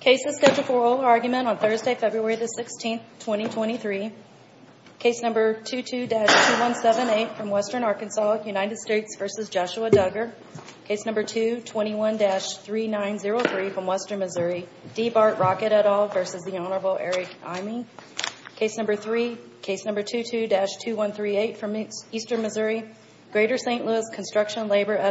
Case No. 22-2178 from Western Missouri, D. Bart Rocket, v. Hon. Eric Eyming Case No. 22-2138 from Eastern Missouri, G. St. Louis Construction Labor, v.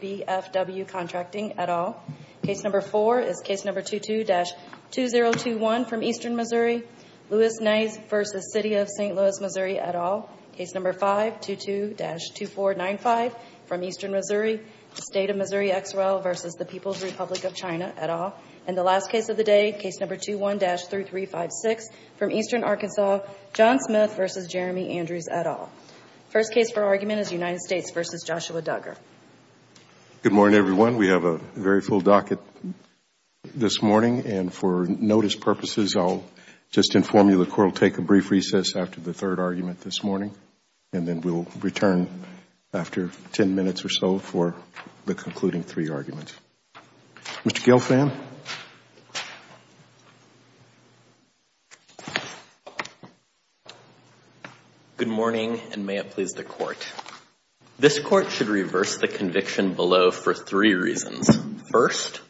D. Bart Rocket, v. Hon. Eric Eyming V. F. W. Contracting, et al. Case No. 4 is Case No. 22-2021 from Eastern Missouri, L. Nise, v. City of St. Louis, Missouri, et al. Case No. 5, 22-2495 from Eastern Missouri, State of Missouri, X. R. L. v. The People's Republic of China, et al. And the last case of the day, Case No. 21-3356 from Eastern Arkansas, John Smith v. Jeremy Andrews, et al. First case for argument is United States v. Joshua Duggar. Good morning, everyone. We have a very full docket this morning. And for notice purposes, I'll just inform you the Court will take a brief recess after the third argument this morning. And then we'll return after 10 minutes or so for the concluding three arguments. Mr. Gelfand. Good morning, everyone. Good morning, and may it please the Court. This Court should reverse the conviction below for three reasons. First,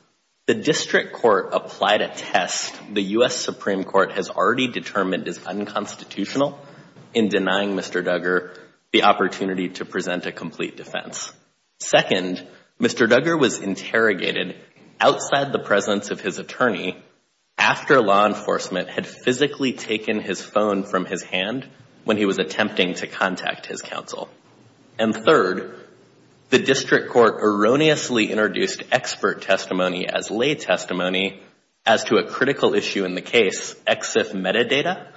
the District Court applied a test the U.S. Supreme Court has already determined is unconstitutional in denying Mr. Duggar the opportunity to present a complete defense. Second, Mr. Duggar was interrogated outside the presence of his attorney after law enforcement had physically taken his phone from his hand when he was attempting to contact his counsel. And third, the District Court erroneously introduced expert testimony as lay testimony as to a critical issue in the case, EXIF metadata.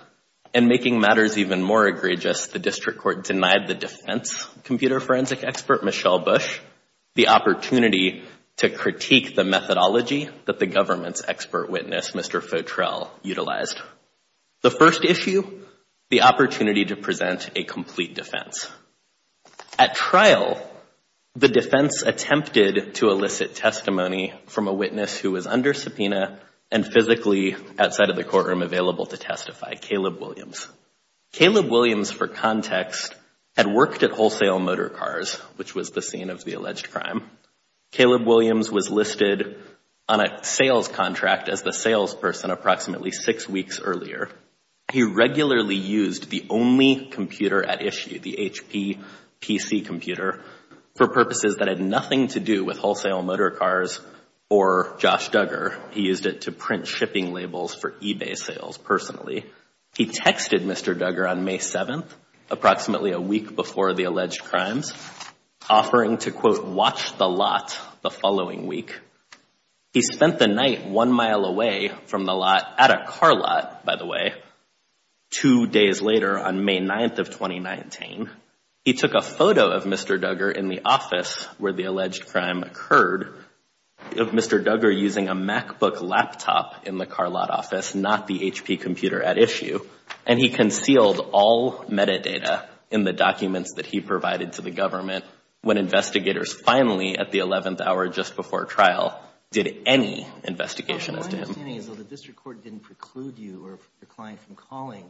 And making matters even more egregious, the District Court denied the defense computer forensic expert, Michelle Bush, the opportunity to critique the methodology that the government's expert witness, Mr. Fotrell, utilized. The first issue, the opportunity to present a complete defense. At trial, the defense attempted to elicit testimony from a witness who was under subpoena and physically outside of the courtroom available to testify, Caleb Williams. Caleb Williams, for context, had worked at Wholesale Motor Cars, which was the scene of the alleged crime. Caleb Williams was listed on a sales contract as the salesperson approximately six weeks earlier. He regularly used the only computer at issue, the HP PC computer, for purposes that had nothing to do with Wholesale Motor Cars or Josh Duggar. He used it to print shipping labels for eBay sales personally. He texted Mr. Duggar on May 7th, approximately a week before the alleged crimes, offering to, quote, watch the lot the following week. He spent the night one mile away from the lot at a car lot, by the way, two days later on May 9th of 2019. He took a photo of Mr. Duggar in the office where the alleged crime occurred of Mr. Duggar using a MacBook laptop in the car lot office, not the HP computer at issue. And he concealed all metadata in the documents that he provided to the government when investigators finally, at the 11th hour just before trial, did any investigation as to him. My understanding is that the district court didn't preclude you or your client from calling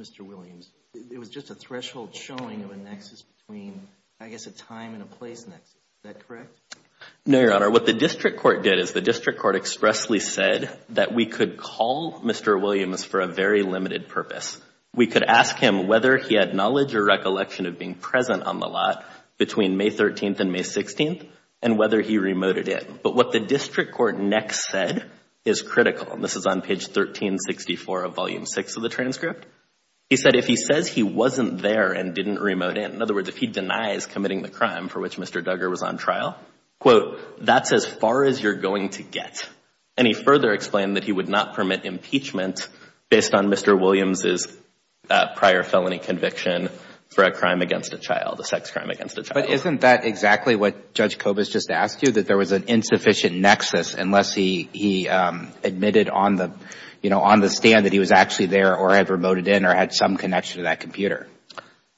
Mr. Williams. It was just a threshold showing of a nexus between, I guess, a time and a place nexus. Is that correct? No, Your Honor. What the district court did is the district court expressly said that we could call Mr. Williams for a very limited purpose. We could ask him whether he had knowledge or recollection of being present on the lot between May 13th and May 16th and whether he remoted in. But what the district court next said is critical. And this is on page 1364 of Volume 6 of the transcript. He said, if he says he wasn't there and didn't remote in, in other words, if he denies committing the crime for which Mr. Duggar was on trial, quote, that's as far as you're going to get. And he further explained that he would not permit impeachment based on Mr. Williams' prior felony conviction for a crime against a child, a sex crime against a child. But isn't that exactly what Judge Kobus just asked you, that there was an insufficient nexus unless he admitted on the stand that he was actually there or had remoted in or had some connection to that computer?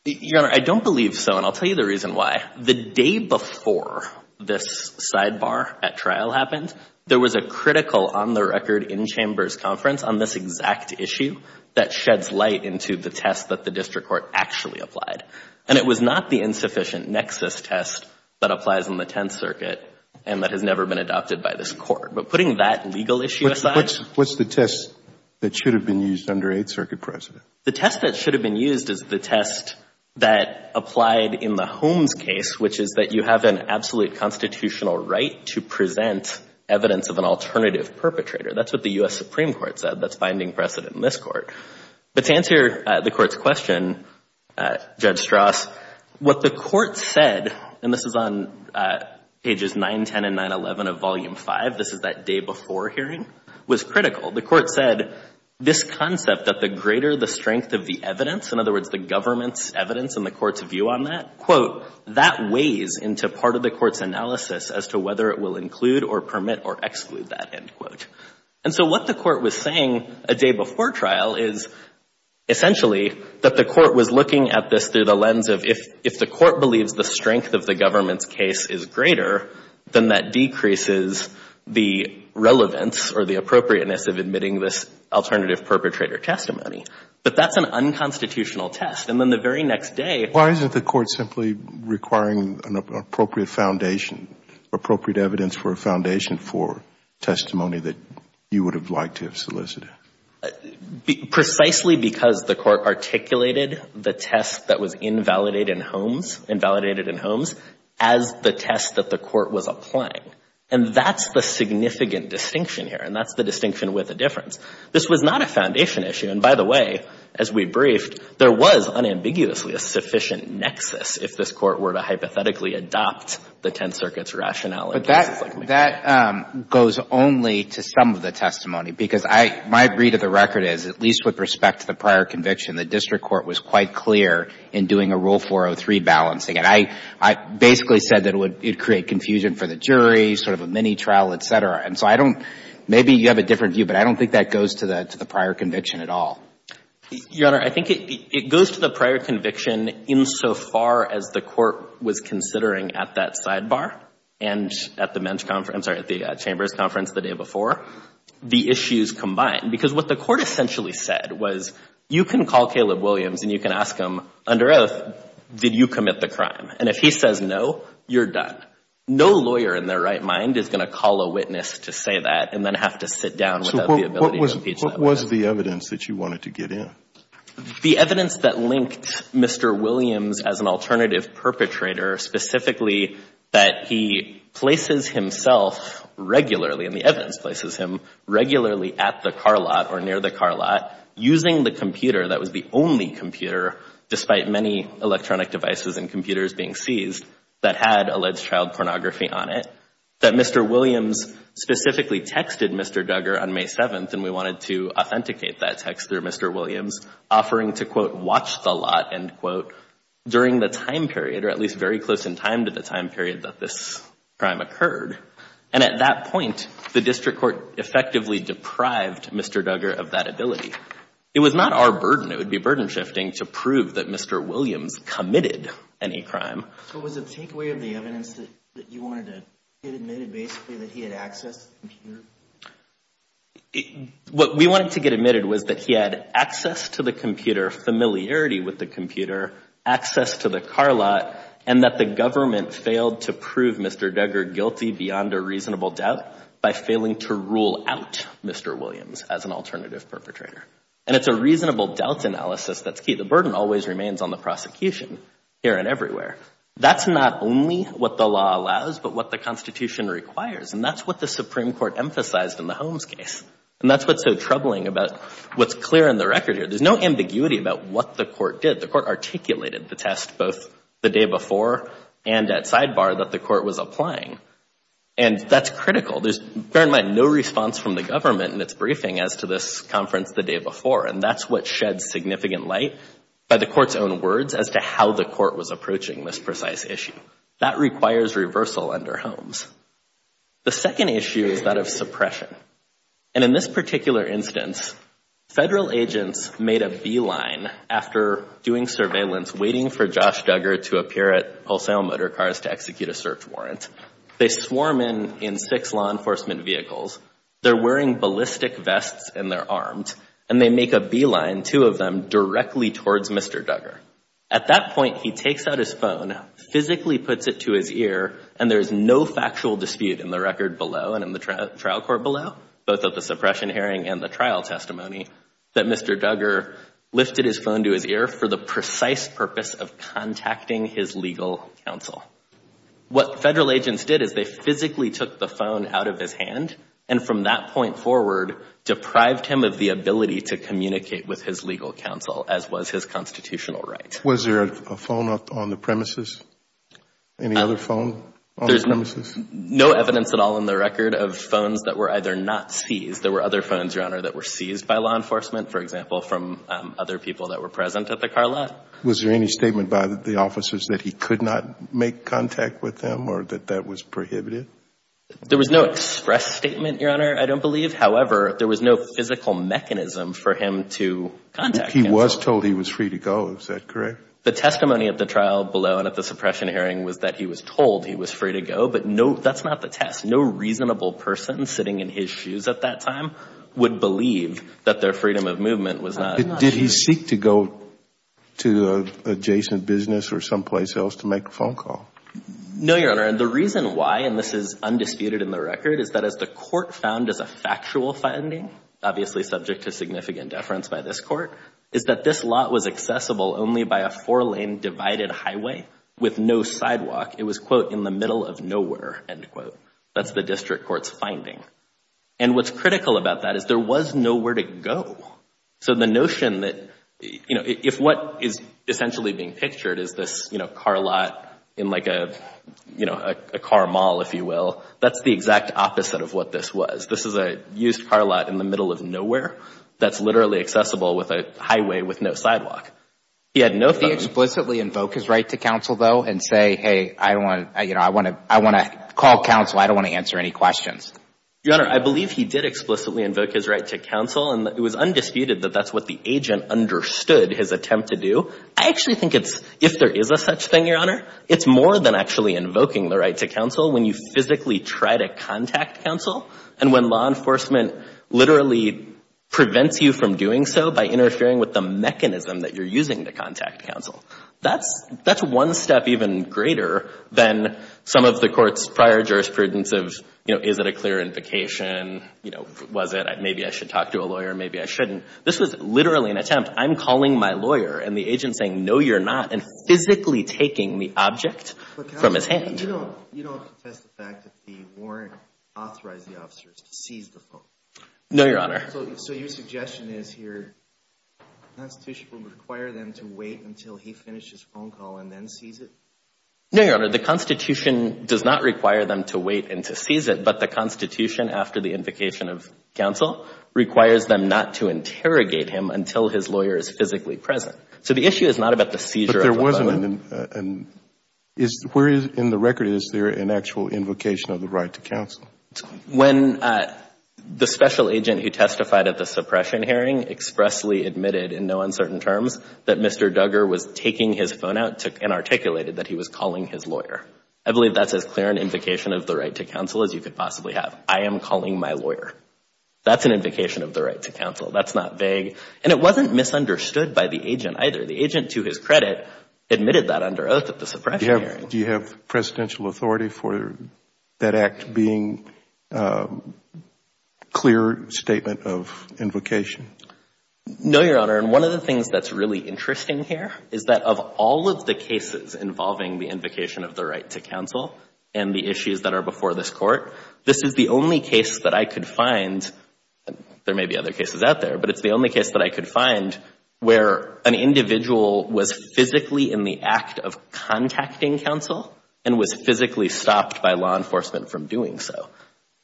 Your Honor, I don't believe so, and I'll tell you the reason why. The day before this sidebar at trial happened, there was a critical on-the-record, in-chambers conference on this exact issue that sheds light into the test that the district court actually applied. And it was not the insufficient nexus test that applies in the Tenth Circuit and that has never been adopted by this Court. But putting that legal issue aside. What's the test that should have been used under Eighth Circuit precedent? The test that should have been used is the test that applied in the Holmes case, which is that you have an absolute constitutional right to present evidence of an alternative perpetrator. That's what the U.S. Supreme Court said. That's binding precedent in this Court. But to answer the Court's question, Judge Strauss, what the Court said, and this is on pages 9, 10, and 9, 11 of Volume 5, this is that day before hearing, was critical. The Court said, this concept that the greater the strength of the evidence, in other words, the government's evidence and the Court's view on that, quote, that weighs into part of the Court's analysis as to whether it will include or permit or exclude that, end quote. And so what the Court was saying a day before trial is essentially that the Court was looking at this through the lens of if the Court believes the strength of the government's case is greater, then that decreases the relevance or the appropriateness of admitting this alternative perpetrator testimony. But that's an unconstitutional test. And then the very next day — Is the Court simply requiring an appropriate foundation, appropriate evidence for a foundation for testimony that you would have liked to have solicited? Precisely because the Court articulated the test that was invalidated in Holmes, invalidated in Holmes, as the test that the Court was applying. And that's the significant distinction here, and that's the distinction with a difference. This was not a foundation issue. And by the way, as we briefed, there was unambiguously a sufficient nexus if this Court were to hypothetically adopt the Tenth Circuit's rationale. But that goes only to some of the testimony, because my read of the record is, at least with respect to the prior conviction, the District Court was quite clear in doing a Rule 403 balancing. And I basically said that it would create confusion for the jury, sort of a mini-trial, et cetera. And so I don't — maybe you have a different view, but I don't think that goes to the prior conviction at all. Your Honor, I think it goes to the prior conviction insofar as the Court was considering at that sidebar, and at the Men's Conference — I'm sorry, at the Chambers Conference the day before, the issues combined. Because what the Court essentially said was, you can call Caleb Williams and you can ask him, under oath, did you commit the crime? And if he says no, you're done. No lawyer in their right mind is going to call a witness to say that and then have to sit down without the ability to impeach them. So what was the evidence that you wanted to get in? The evidence that linked Mr. Williams as an alternative perpetrator, specifically that he places himself regularly, and the evidence places him regularly at the car lot or near the car lot, using the computer that was the only computer, despite many electronic devices and computers being seized, that had alleged child pornography on it. That Mr. Williams specifically texted Mr. Duggar on May 7th, and we wanted to authenticate that text through Mr. Williams, offering to, quote, watch the lot, end quote, during the time period, or at least very close in time to the time period that this crime occurred. And at that point, the District Court effectively deprived Mr. Duggar of that ability. It was not our burden. It would be burden-shifting to prove that Mr. Williams committed any crime. So was the takeaway of the evidence that you wanted to get admitted, basically, that he had access to the computer? What we wanted to get admitted was that he had access to the computer, familiarity with the computer, access to the car lot, and that the government failed to prove Mr. Duggar guilty beyond a reasonable doubt by failing to rule out Mr. Williams as an alternative perpetrator. And it's a reasonable doubt analysis that's key. The burden always remains on the prosecution here and everywhere. That's not only what the law allows, but what the Constitution requires, and that's what the Supreme Court emphasized in the Holmes case. And that's what's so troubling about what's clear in the record here. There's no ambiguity about what the court did. There's no ambiguity in the text, both the day before and at sidebar, that the court was applying. And that's critical. There's, bear in mind, no response from the government in its briefing as to this conference the day before. And that's what sheds significant light by the court's own words as to how the court was approaching this precise issue. That requires reversal under Holmes. The second issue is that of suppression. And in this particular instance, federal agents made a beeline after doing surveillance waiting for Josh Duggar to appear at Wholesale Motorcars to execute a search warrant. They swarm in in six law enforcement vehicles. They're wearing ballistic vests and they're armed. And they make a beeline, two of them, directly towards Mr. Duggar. At that point, he takes out his phone, physically puts it to his ear, and there's no factual dispute in the record below and in the trial court below, both of the suppression hearing and the trial testimony, that Mr. Duggar lifted his phone to his ear for the precise purpose of contacting his legal counsel. What federal agents did is they physically took the phone out of his hand, and from that point forward, deprived him of the ability to communicate with his legal counsel, as was his constitutional right. Was there a phone on the premises? Any other phone on the premises? There's no evidence at all in the record of phones that were either not seized. There were other phones, Your Honor, that were seized by law enforcement, for example, from other people that were present at the car lot. Was there any statement by the officers that he could not make contact with them or that that was prohibited? There was no express statement, Your Honor, I don't believe. However, there was no physical mechanism for him to contact counsel. He was told he was free to go. Is that correct? The testimony at the trial below and at the suppression hearing was that he was told he was free to go. But that's not the test. No reasonable person sitting in his shoes at that time would believe that their freedom of movement was not. Did he seek to go to an adjacent business or someplace else to make a phone call? No, Your Honor. And the reason why, and this is undisputed in the record, is that as the court found as a factual finding, obviously subject to significant deference by this court, is that this lot was accessible only by a four-lane divided highway with no sidewalk. It was, quote, in the middle of nowhere, end quote. That's the district court's finding. And what's critical about that is there was nowhere to go. So the notion that, you know, if what is essentially being pictured is this, you know, car lot in like a, you know, a car mall, if you will, that's the exact opposite of what this was. This is a used car lot in the middle of nowhere that's literally accessible with a highway with no sidewalk. He had no phone. Did he explicitly invoke his right to counsel, though, and say, hey, I don't want to, you know, I want to call counsel, I don't want to answer any questions? Your Honor, I believe he did explicitly invoke his right to counsel. And it was undisputed that that's what the agent understood his attempt to do. I actually think it's, if there is a such thing, Your Honor, it's more than actually invoking the right to counsel when you physically try to contact counsel and when law enforcement literally prevents you from doing so by interfering with the mechanism that you're using to contact counsel. That's one step even greater than some of the court's prior jurisprudence of, you know, is it a clear invocation? You know, was it maybe I should talk to a lawyer, maybe I shouldn't? This was literally an attempt, I'm calling my lawyer, and the agent's saying, no, you're not, and physically taking the object from his hand. You don't contest the fact that the warrant authorized the officers to seize the phone? No, Your Honor. So your suggestion is here the Constitution would require them to wait until he finishes his phone call and then seize it? No, Your Honor, the Constitution does not require them to wait and to seize it, but the Constitution after the invocation of counsel requires them not to interrogate him until his lawyer is physically present. So the issue is not about the seizure of the phone. But there wasn't an, where in the record is there an actual invocation of the right to counsel? When the special agent who testified at the suppression hearing expressly admitted in no uncertain terms that Mr. Duggar was taking his phone out and articulated that he was calling his lawyer. I believe that's as clear an invocation of the right to counsel as you could possibly have. I am calling my lawyer. That's an invocation of the right to counsel. That's not vague. And it wasn't misunderstood by the agent either. The agent, to his credit, admitted that under oath at the suppression hearing. Do you have presidential authority for that act being a clear statement of invocation? No, Your Honor. And one of the things that's really interesting here is that of all of the cases involving the invocation of the right to counsel and the issues that are before this Court, this is the only case that I could find, there may be other cases out there, but it's the only case that I could find where an individual was physically in the act of contacting counsel and was physically stopped by law enforcement from doing so.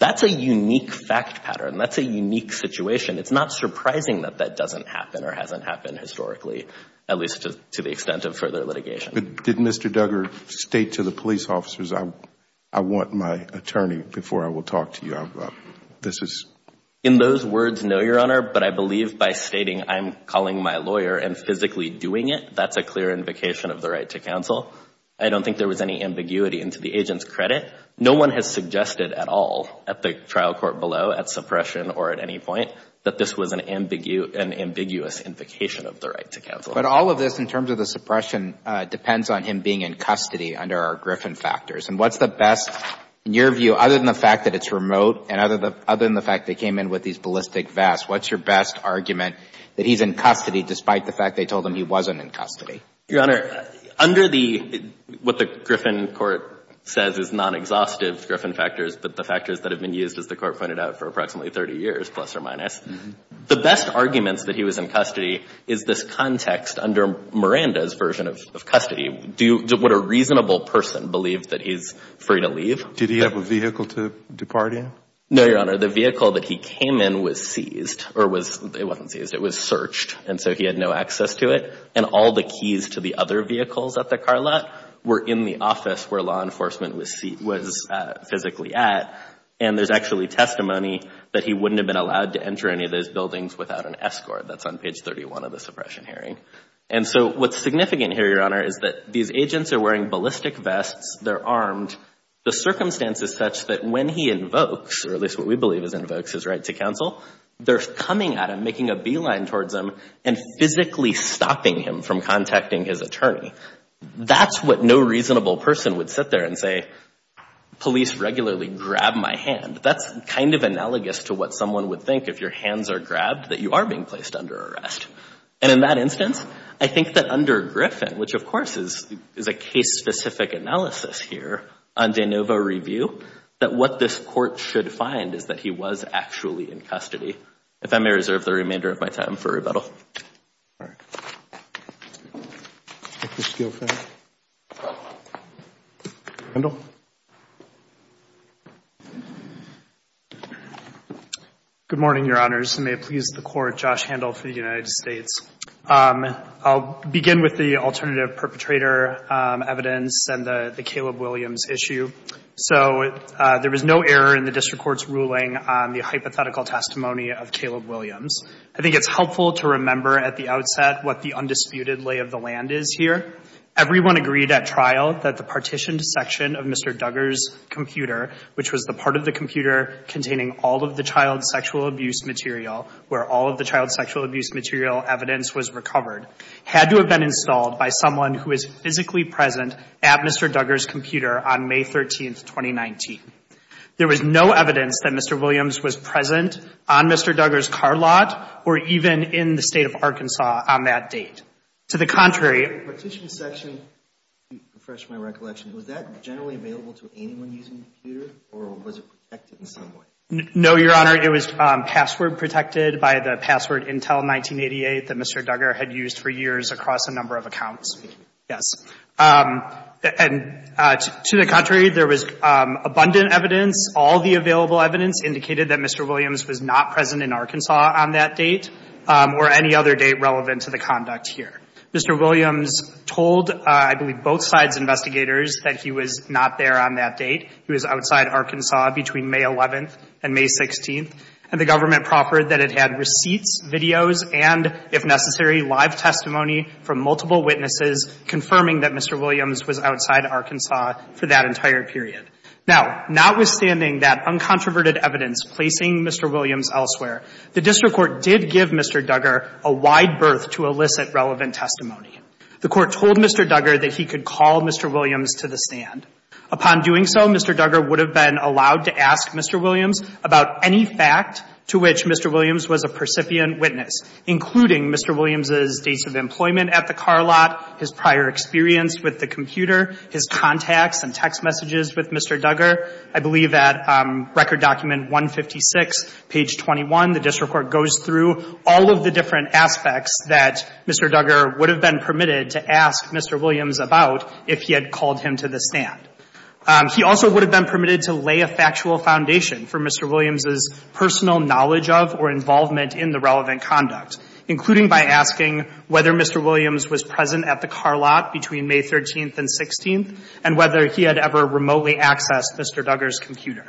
That's a unique fact pattern. That's a unique situation. It's not surprising that that doesn't happen or hasn't happened historically, at least to the extent of further litigation. Did Mr. Duggar state to the police officers, I want my attorney before I will talk to you? In those words, no, Your Honor, but I believe by stating I'm calling my lawyer and physically doing it, that's a clear invocation of the right to counsel. I don't think there was any ambiguity into the agent's credit. No one has suggested at all at the trial court below, at suppression or at any point, that this was an ambiguous invocation of the right to counsel. But all of this in terms of the suppression depends on him being in custody under our Griffin factors. And what's the best, in your view, other than the fact that it's remote and other than the fact they came in with these ballistic vests, what's your best argument that he's in custody despite the fact they told him he wasn't in custody? Your Honor, under the, what the Griffin court says is non-exhaustive Griffin factors, but the factors that have been used, as the court pointed out, for approximately 30 years, plus or minus, the best arguments that he was in custody is this context under Miranda's version of custody. Would a reasonable person believe that he's free to leave? Did he have a vehicle to depart in? No, Your Honor. The vehicle that he came in was seized or was, it wasn't seized, it was searched. And so he had no access to it. And all the keys to the other vehicles at the car lot were in the office where law enforcement was physically at. And there's actually testimony that he wouldn't have been allowed to enter any of those buildings without an escort. That's on page 31 of the suppression hearing. And so what's significant here, Your Honor, is that these agents are wearing ballistic vests. They're armed. The circumstance is such that when he invokes, or at least what we believe is invokes, his right to counsel, they're coming at him, making a beeline towards him, and physically stopping him from contacting his attorney. That's what no reasonable person would sit there and say, police regularly grab my hand. That's kind of analogous to what someone would think if your hands are grabbed, that you are being placed under arrest. And in that instance, I think that under Griffin, which of course is a case-specific analysis here on de novo review, that what this court should find is that he was actually in custody. If I may reserve the remainder of my time for rebuttal. All right. Let's go for it. Handel? Good morning, Your Honors, and may it please the Court, Josh Handel for the United States. I'll begin with the alternative perpetrator evidence and the Caleb Williams issue. So there was no error in the district court's ruling on the hypothetical testimony of Caleb Williams. I think it's helpful to remember at the outset what the undisputed lay of the land is here. Everyone agreed at trial that the partitioned section of Mr. Duggar's computer, which was the part of the computer containing all of the child sexual abuse material, where all of the child sexual abuse material evidence was recovered, had to have been installed by someone who is physically present at Mr. Duggar's computer on May 13, 2019. There was no evidence that Mr. Williams was present on Mr. Duggar's car lot or even in the State of Arkansas on that date. To the contrary, the partitioned section, to refresh my recollection, was that generally available to anyone using the computer or was it protected in some way? No, Your Honor. It was password protected by the password Intel 1988 that Mr. Duggar had used for years across a number of accounts. Yes. And to the contrary, there was abundant evidence. All the available evidence indicated that Mr. Williams was not present in Arkansas on that date or any other date relevant to the conduct here. Mr. Williams told, I believe, both sides' investigators that he was not there on that date. He was outside Arkansas between May 11th and May 16th. And the government proffered that it had receipts, videos, and, if necessary, live testimony from multiple witnesses confirming that Mr. Williams was outside Arkansas for that entire period. Now, notwithstanding that uncontroverted evidence placing Mr. Williams elsewhere, the district court did give Mr. Duggar a wide berth to elicit relevant testimony. The court told Mr. Duggar that he could call Mr. Williams to the stand. Upon doing so, Mr. Duggar would have been allowed to ask Mr. Williams about any fact to which Mr. Williams was a percipient witness, including Mr. Williams' dates of employment at the car lot, his prior experience with the computer, his contacts and text messages with Mr. Duggar. I believe that Record Document 156, page 21, the district court goes through all of the different aspects that Mr. Duggar would have been permitted to ask Mr. Williams about if he had called him to the stand. He also would have been permitted to lay a factual foundation for Mr. Williams' personal knowledge of or involvement in the relevant conduct, including by asking whether Mr. Williams was present at the car lot between May 13th and 16th and whether he had ever remotely accessed Mr. Duggar's computer.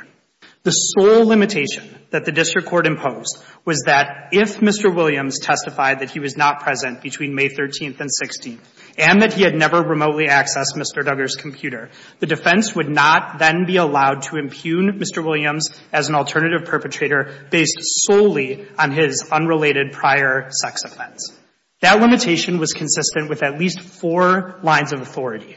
The sole limitation that the district court imposed was that if Mr. Williams testified that he was not present between May 13th and 16th and that he had never remotely accessed Mr. Duggar's computer, the defense would not then be allowed to impugn Mr. Williams as an alternative perpetrator based solely on his unrelated prior sex offense. That limitation was consistent with at least four lines of authority.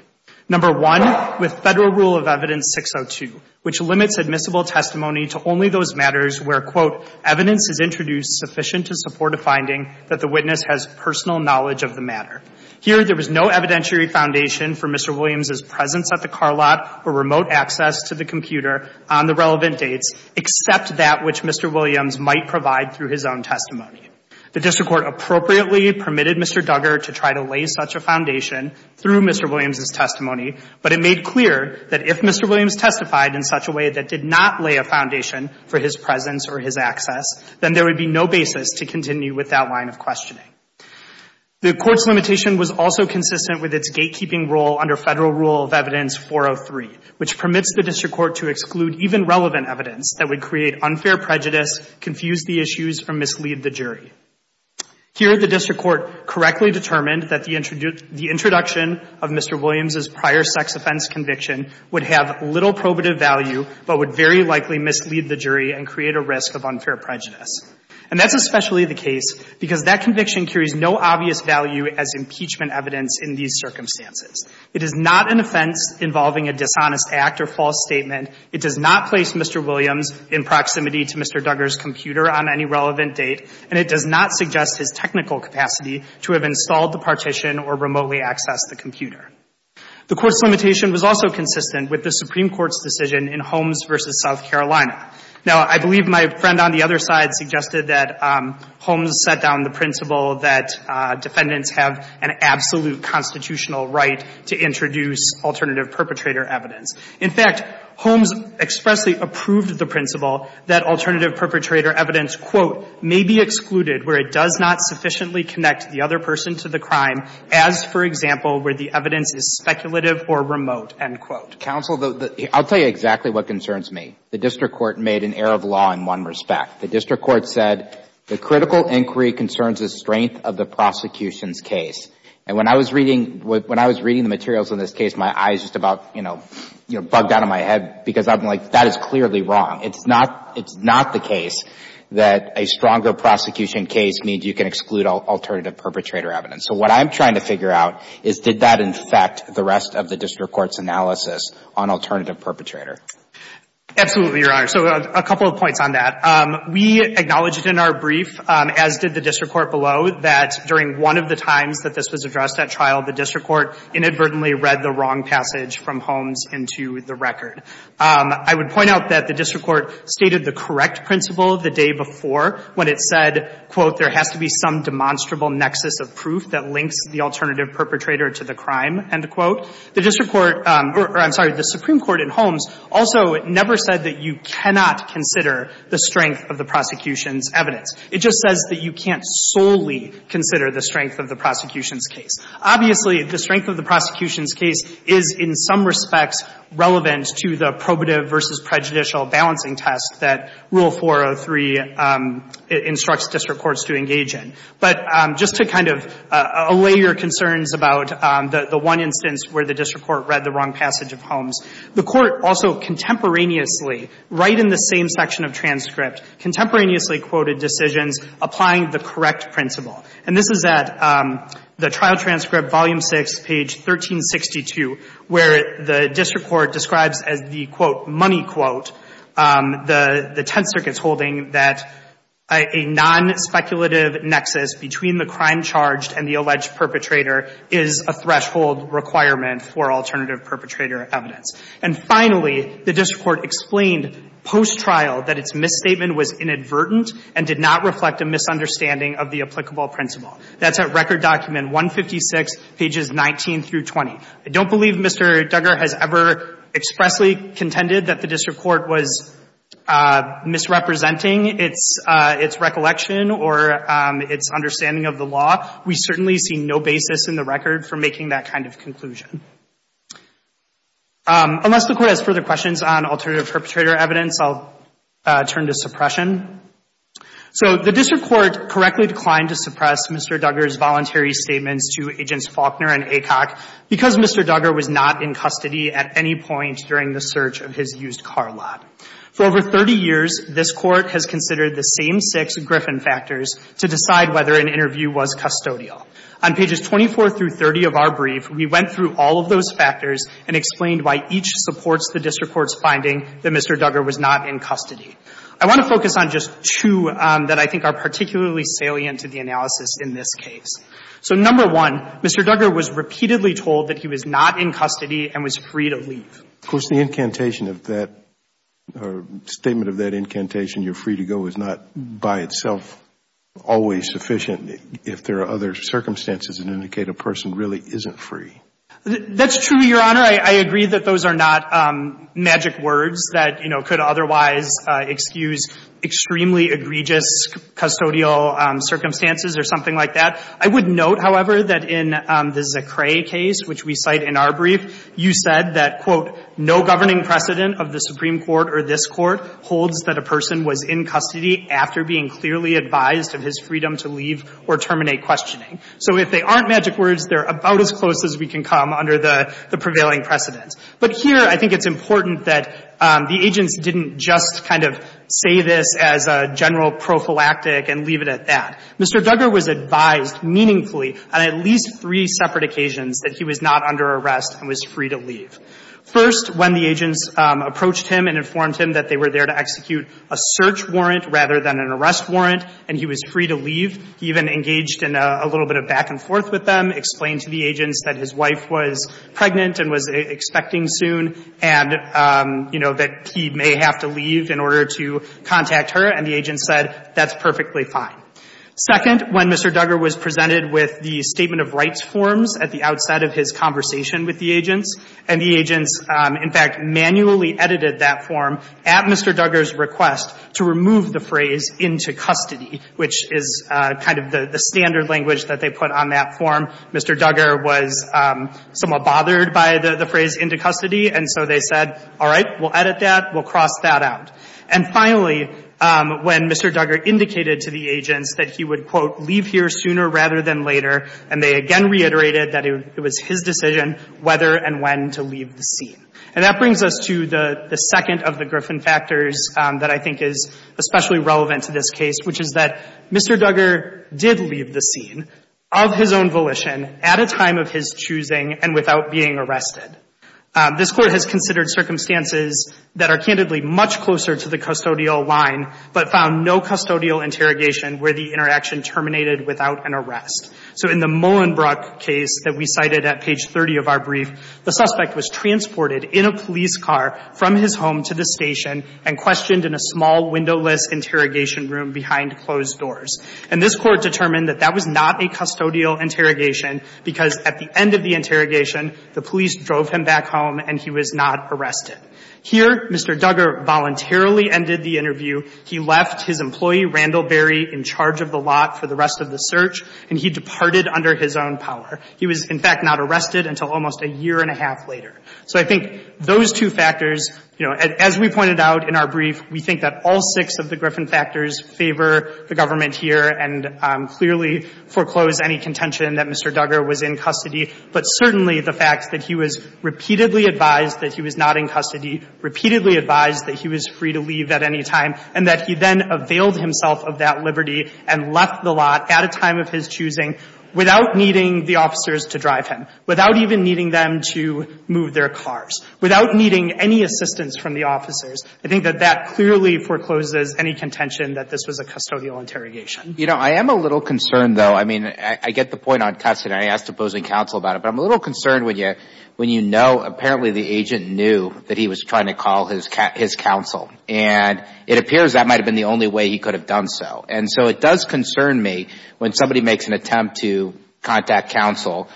Number one, with federal rule of evidence 602, which limits admissible testimony to only those matters where, quote, evidence is introduced sufficient to support a finding that the witness has personal knowledge of the matter. Here, there was no evidentiary foundation for Mr. Williams' presence at the car lot or remote access to the computer on the relevant dates, except that which Mr. Williams might provide through his own testimony. The district court appropriately permitted Mr. Duggar to try to lay such a foundation through Mr. Williams' testimony, but it made clear that if Mr. Williams testified in such a way that did not lay a foundation for his presence or his access, then there would be no basis to continue with that line of questioning. The court's limitation was also consistent with its gatekeeping rule under federal rule of evidence 403, which permits the district court to exclude even relevant evidence that would create unfair prejudice, confuse the issues, or mislead the jury. Here, the district court correctly determined that the introduction of Mr. Williams' prior sex offense conviction would have little probative value, but would very likely mislead the jury and create a risk of unfair prejudice. And that's especially the case because that conviction carries no obvious value as impeachment evidence in these circumstances. It is not an offense involving a dishonest act or false statement. It does not place Mr. Williams in proximity to Mr. Duggar's computer on any relevant date, and it does not suggest his technical capacity to have installed the partition or remotely accessed the computer. The court's limitation was also consistent with the Supreme Court's decision in Holmes v. South Carolina. Now, I believe my friend on the other side suggested that Holmes set down the principle that defendants have an absolute constitutional right to introduce alternative perpetrator evidence. In fact, Holmes expressly approved the principle that alternative perpetrator evidence, quote, may be excluded where it does not sufficiently connect the other person to the crime as, for example, where the evidence is speculative or remote, end quote. Counsel, I'll tell you exactly what concerns me. The district court made an error of law in one respect. The district court said the critical inquiry concerns the strength of the prosecution's case. And when I was reading the materials on this case, my eyes just about, you know, bugged out of my head because I'm like, that is clearly wrong. It's not the case that a stronger prosecution case means you can exclude alternative perpetrator evidence. So what I'm trying to figure out is did that infect the rest of the district court's analysis on alternative perpetrator? Absolutely, Your Honor. So a couple of points on that. We acknowledged in our brief, as did the district court below, that during one of the times that this was addressed at trial, the district court inadvertently read the wrong passage from Holmes into the record. I would point out that the district court stated the correct principle the day before when it said, quote, there has to be some demonstrable nexus of proof that links the alternative perpetrator to the crime, end quote. The district court or, I'm sorry, the Supreme Court in Holmes also never said that you cannot consider the strength of the prosecution's evidence. It just says that you can't solely consider the strength of the prosecution's case. Obviously, the strength of the prosecution's case is in some respects relevant to the probative versus prejudicial balancing test that Rule 403 instructs district courts to engage in. But just to kind of allay your concerns about the one instance where the district court read the wrong passage of Holmes, the court also contemporaneously, right in the same section of transcript, contemporaneously quoted decisions applying the correct principle. And this is at the trial transcript, volume 6, page 1362, where the district court describes as the, quote, money quote, the Tenth Circuit's holding that a nonspeculative nexus between the crime charged and the alleged perpetrator is a threshold requirement for alternative perpetrator evidence. And finally, the district court explained post-trial that its misstatement was inadvertent and did not reflect a misunderstanding of the applicable principle. That's at Record Document 156, pages 19 through 20. I don't believe Mr. Duggar has ever expressly contended that the district court was misrepresenting its recollection or its understanding of the law. We certainly see no basis in the record for making that kind of conclusion. Unless the court has further questions on alternative perpetrator evidence, I'll turn to suppression. So the district court correctly declined to suppress Mr. Duggar's voluntary statements to Agents Faulkner and Aycock because Mr. Duggar was not in custody at any point during the search of his used car lot. For over 30 years, this Court has considered the same six Griffin factors to decide whether an interview was custodial. On pages 24 through 30 of our brief, we went through all of those factors and explained why each supports the district court's finding that Mr. Duggar was not in custody. I want to focus on just two that I think are particularly salient to the analysis in this case. So number one, Mr. Duggar was repeatedly told that he was not in custody and was free to leave. Of course, the incantation of that or statement of that incantation, you're free to go, is not by itself always sufficient if there are other circumstances that indicate a person really isn't free. That's true, Your Honor. I agree that those are not magic words that, you know, could otherwise excuse extremely egregious custodial circumstances or something like that. I would note, however, that in the Zecre case, which we cite in our brief, you said that, quote, no governing precedent of the Supreme Court or this Court holds that a person was in custody after being clearly advised of his freedom to leave or terminate questioning. So if they aren't magic words, they're about as close as we can come under the prevailing precedent. But here, I think it's important that the agents didn't just kind of say this as a general prophylactic and leave it at that. Mr. Duggar was advised meaningfully on at least three separate occasions that he was not under arrest and was free to leave. First, when the agents approached him and informed him that they were there to execute a search warrant rather than an arrest warrant and he was free to leave, he even engaged in a little bit of back and forth with them, explained to the agents that his wife was pregnant and was expecting soon and, you know, that he may have to leave in order to contact her, and the agents said that's perfectly fine. Second, when Mr. Duggar was presented with the statement of rights forms at the outset of his conversation with the agents, and the agents, in fact, manually edited that form at Mr. Duggar's request to remove the phrase into custody, which is kind of the standard language that they put on that form. Mr. Duggar was somewhat bothered by the phrase into custody, and so they said, all right, we'll edit that. We'll cross that out. And finally, when Mr. Duggar indicated to the agents that he would, quote, leave here sooner rather than later, and they again reiterated that it was his decision whether and when to leave the scene. And that brings us to the second of the Griffin factors that I think is especially relevant to this case, which is that Mr. Duggar did leave the scene of his own volition at a time of his choosing and without being arrested. This Court has considered circumstances that are candidly much closer to the custodial line, but found no custodial interrogation where the interaction terminated without an arrest. So in the Mullenbrook case that we cited at page 30 of our brief, the suspect was transported in a police car from his home to the station and questioned in a small windowless interrogation room behind closed doors. And this Court determined that that was not a custodial interrogation because at the end of the interrogation, the police drove him back home and he was not arrested. Here, Mr. Duggar voluntarily ended the interview. He left his employee, Randall Berry, in charge of the lot for the rest of the search, and he departed under his own power. He was, in fact, not arrested until almost a year and a half later. So I think those two factors, you know, as we pointed out in our brief, we think that all six of the Griffin factors favor the government here and clearly foreclose any contention that Mr. Duggar was in custody, but certainly the fact that he was repeatedly advised that he was not in custody, repeatedly advised that he was free to leave at any time, and that he then availed himself of that liberty and left the lot at a time of his choosing without needing the officers to drive him, without even needing them to move their cars, without needing any assistance from the officers. I think that that clearly forecloses any contention that this was a custodial interrogation. You know, I am a little concerned, though. I mean, I get the point on custody. I asked opposing counsel about it, but I'm a little concerned when you know apparently the agent knew that he was trying to call his counsel, and it appears that might have been the only way he could have done so. And so it does concern me when somebody makes an attempt to contact counsel,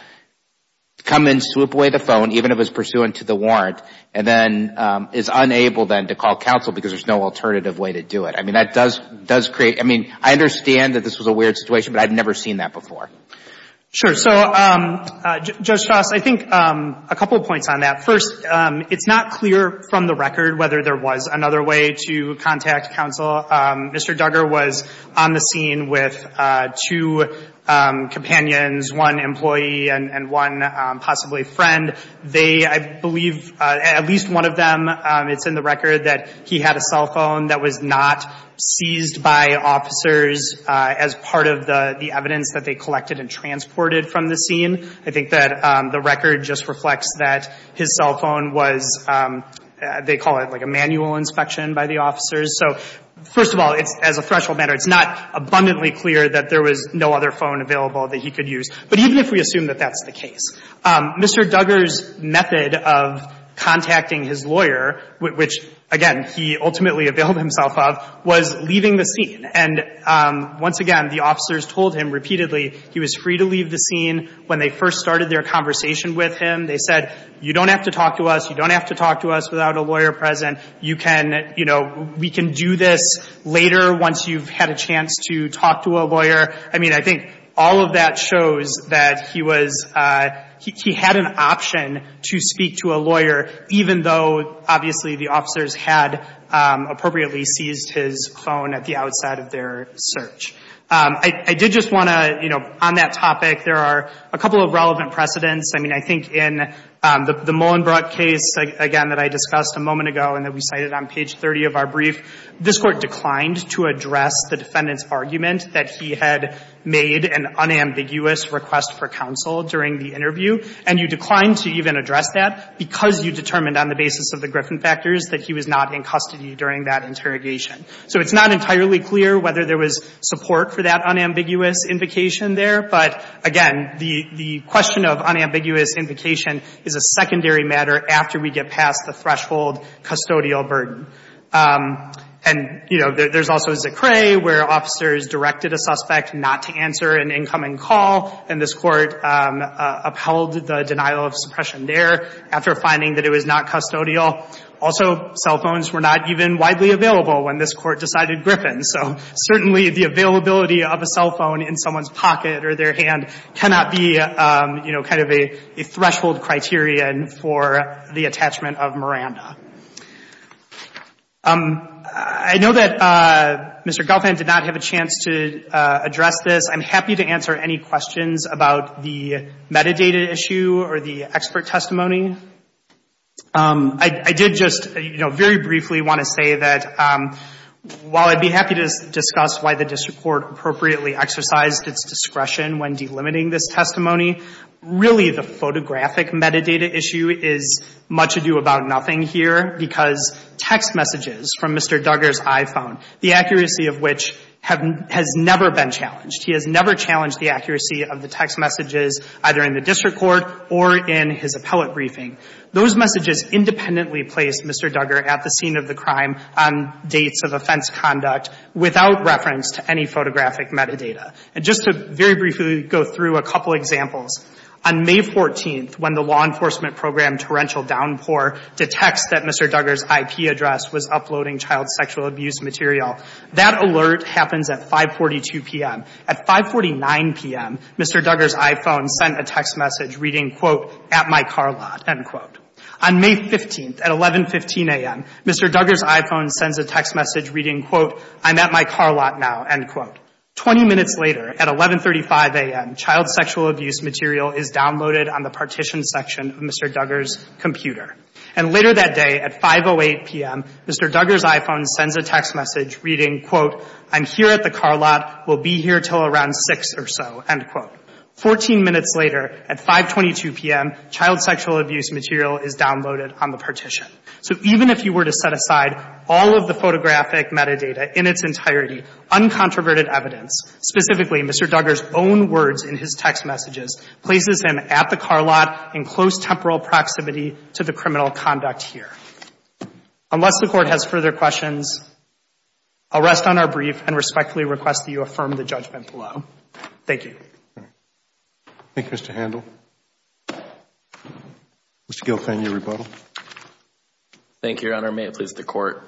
come and swoop away the phone, even if it's pursuant to the warrant, and then is unable then to call counsel because there's no alternative way to do it. I mean, that does create – I mean, I understand that this was a weird situation, but I've never seen that before. Sure. So, Judge Shost, I think a couple of points on that. First, it's not clear from the record whether there was another way to contact counsel. Mr. Duggar was on the scene with two companions, one employee and one possibly friend. They, I believe, at least one of them, it's in the record that he had a cell phone that was not seized by officers as part of the evidence that they collected and transported from the scene. I think that the record just reflects that his cell phone was, they call it like a manual inspection by the officers. So, first of all, as a threshold matter, it's not abundantly clear that there was no other phone available that he could use. But even if we assume that that's the case, Mr. Duggar's method of contacting his lawyer, which, again, he ultimately availed himself of, was leaving the scene. And once again, the officers told him repeatedly he was free to leave the scene. When they first started their conversation with him, they said, you don't have to talk to us. You don't have to talk to us without a lawyer present. You can, you know, we can do this later once you've had a chance to talk to a lawyer. I mean, I think all of that shows that he was, he had an option to speak to a lawyer even though, obviously, the officers had appropriately seized his phone at the outside of their search. I did just want to, you know, on that topic, there are a couple of relevant precedents. I mean, I think in the Mullenbrook case, again, that I discussed a moment ago and that we cited on page 30 of our brief, this Court declined to address the defendant's argument that he had made an unambiguous request for counsel during the interview. And you declined to even address that because you determined on the basis of the Griffin factors that he was not in custody during that interrogation. So it's not entirely clear whether there was support for that unambiguous invocation there. But again, the question of unambiguous invocation is a secondary matter after we get past the threshold custodial burden. And, you know, there's also Zecre where officers directed a suspect not to answer an incoming call. And this Court upheld the denial of suppression there after finding that it was not custodial. Also, cell phones were not even widely available when this Court decided Griffin. So certainly, the availability of a cell phone in someone's pocket or their hand cannot be, you know, kind of a threshold criterion for the attachment of Miranda. I know that Mr. Gelfand did not have a chance to address this. I'm happy to answer any questions about the metadata issue or the expert testimony. I did just, you know, very briefly want to say that while I'd be happy to discuss why the district court appropriately exercised its discretion when delimiting this testimony, really the photographic metadata issue is much ado about nothing here because text messages from Mr. Duggar's iPhone, the accuracy of which has never been challenged. He has never challenged the accuracy of the text messages either in the district court or in his appellate briefing. Those messages independently placed Mr. Duggar at the scene of the crime on dates of offense conduct without reference to any photographic metadata. And just to very briefly go through a couple examples, on May 14th, when the law enforcement program Torrential Downpour detects that Mr. Duggar's IP address was on May 15th, at 11.15 p.m., at 5.49 p.m., Mr. Duggar's iPhone sent a text message reading, quote, at my car lot, end quote. On May 15th, at 11.15 a.m., Mr. Duggar's iPhone sends a text message reading, quote, I'm at my car lot now, end quote. Twenty minutes later, at 11.35 a.m., child sexual abuse material is downloaded on the partition section of Mr. Duggar's computer. And later that day, at 5.08 p.m., Mr. Duggar's iPhone sends a text message reading, quote, I'm here at the car lot, will be here until around 6 or so, end quote. Fourteen minutes later, at 5.22 p.m., child sexual abuse material is downloaded on the partition. So even if you were to set aside all of the photographic metadata in its entirety, uncontroverted evidence, specifically Mr. Duggar's own words in his text messages, places him at the car lot in close temporal proximity to the criminal conduct here. Unless the Court has further questions, I'll rest on our brief and respectfully request that you affirm the judgment below. Thank you. Thank you, Mr. Handel. Mr. Gilfen, your rebuttal. Thank you, Your Honor. May it please the Court.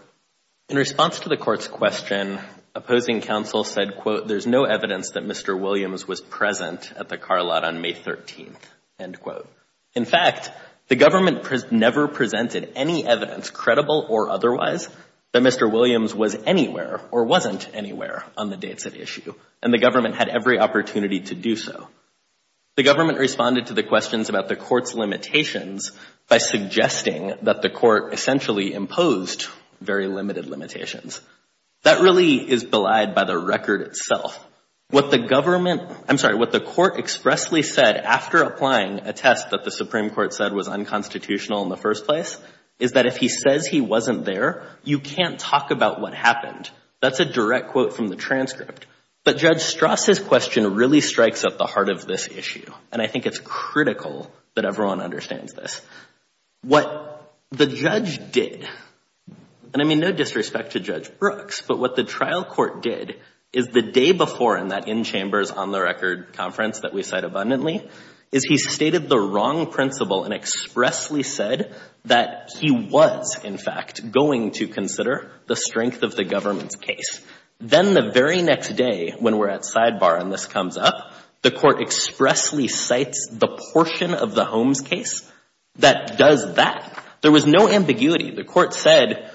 In response to the Court's question, opposing counsel said, quote, there's no evidence that Mr. Williams was present at the car lot on May 13th, end quote. In fact, the government never presented any evidence, credible or otherwise, that Mr. Williams was anywhere or wasn't anywhere on the dates at issue, and the government had every opportunity to do so. The government responded to the questions about the Court's limitations by suggesting that the Court essentially imposed very limited limitations. That really is belied by the record itself. What the government, I'm sorry, what the Court expressly said after applying a test that the Supreme Court said was unconstitutional in the first place, is that if he says he wasn't there, you can't talk about what happened. That's a direct quote from the transcript. But Judge Strass' question really strikes at the heart of this issue, and I think it's critical that everyone understands this. What the judge did, and I mean no disrespect to Judge Brooks, but what the trial court did is the day before in that in-chambers, on-the-record conference that we cite abundantly, is he stated the wrong principle and expressly said that he was, in fact, going to consider the strength of the government's case. Then the very next day, when we're at sidebar and this comes up, the Court expressly cites the portion of the Holmes case that does that. There was no ambiguity. The Court said,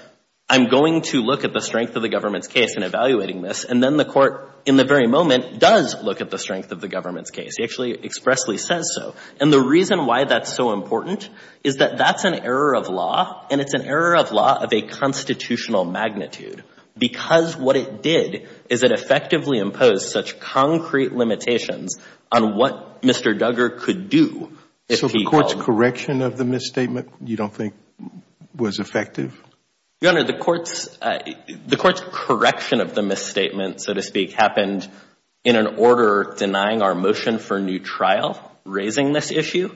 I'm going to look at the strength of the government's case in evaluating this, and then the Court, in the very moment, does look at the strength of the government's case. He actually expressly says so. And the reason why that's so important is that that's an error of law, and it's an error of law of a constitutional magnitude, because what it did is it effectively imposed such concrete limitations on what Mr. Duggar could do. So the Court's correction of the misstatement you don't think was effective? Your Honor, the Court's correction of the misstatement, so to speak, happened in an order denying our motion for a new trial raising this issue,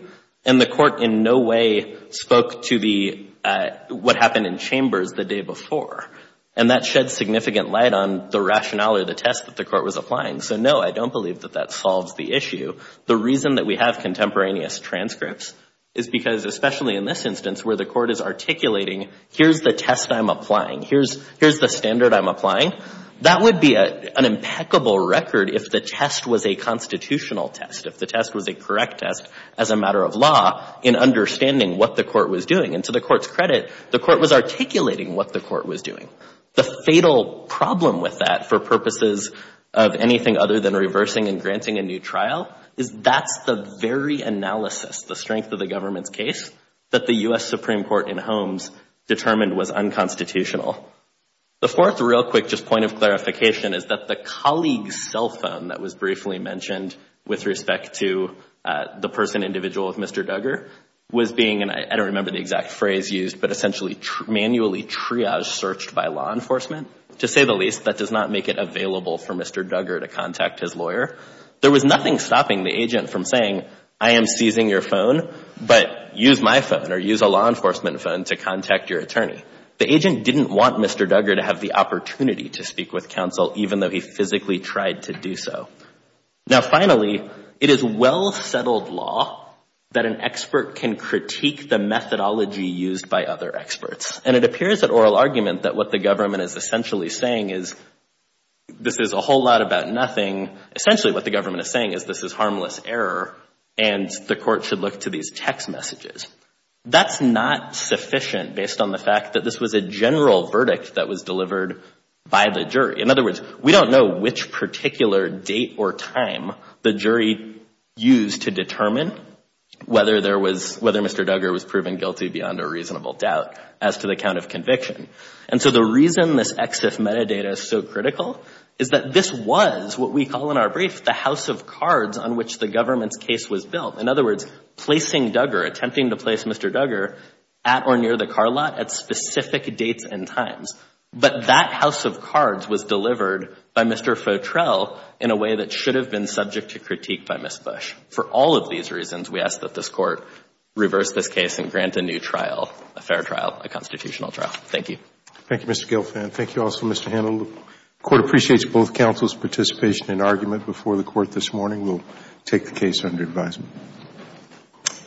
and the Court in no way spoke to what happened in chambers the day before. And that shed significant light on the rationale or the test that the Court was applying. So, no, I don't believe that that solves the issue. The reason that we have contemporaneous transcripts is because, especially in this instance where the Court is articulating, here's the test I'm applying, here's the standard I'm applying, that would be an impeccable record if the test was a constitutional test, if the test was a correct test as a matter of law in understanding what the Court was doing. And to the Court's credit, the Court was articulating what the Court was doing. The fatal problem with that for purposes of anything other than reversing and granting a new trial is that's the very analysis, the strength of the government's case, that the U.S. Supreme Court in Holmes determined was unconstitutional. The fourth real quick just point of clarification is that the colleague's cell phone that was briefly mentioned with respect to the person, individual with Mr. Duggar, was being, and I don't remember the exact phrase used, but essentially manually triaged, searched by law enforcement. To say the least, that does not make it available for Mr. Duggar to contact his lawyer. There was nothing stopping the agent from saying, I am seizing your phone, but use my phone or use a law enforcement phone to contact your attorney. The agent didn't want Mr. Duggar to have the opportunity to speak with counsel, even though he physically tried to do so. Now, finally, it is well-settled law that an expert can critique the methodology used by other experts. And it appears that oral argument that what the government is essentially saying is, this is a whole lot about nothing, essentially what the government is saying is this is harmless error and the Court should look to these text messages. That's not sufficient based on the fact that this was a general verdict that was delivered by the jury. In other words, we don't know which particular date or time the jury used to determine whether Mr. Duggar was proven guilty beyond a reasonable doubt as to the count of conviction. And so the reason this EXIF metadata is so critical is that this was what we call in our brief the house of cards on which the government's case was built. In other words, placing Duggar, attempting to place Mr. Duggar at or near the car lot at specific dates and times. But that house of cards was delivered by Mr. Fotrell in a way that should have been subject to critique by Ms. Bush. For all of these reasons, we ask that this Court reverse this case and grant a new trial, a fair trial, a constitutional trial. Thank you. Thank you, Mr. Gelfand. Thank you also, Mr. Handel. The Court appreciates both counsel's participation and argument before the Court this morning. We will take the case under advisement.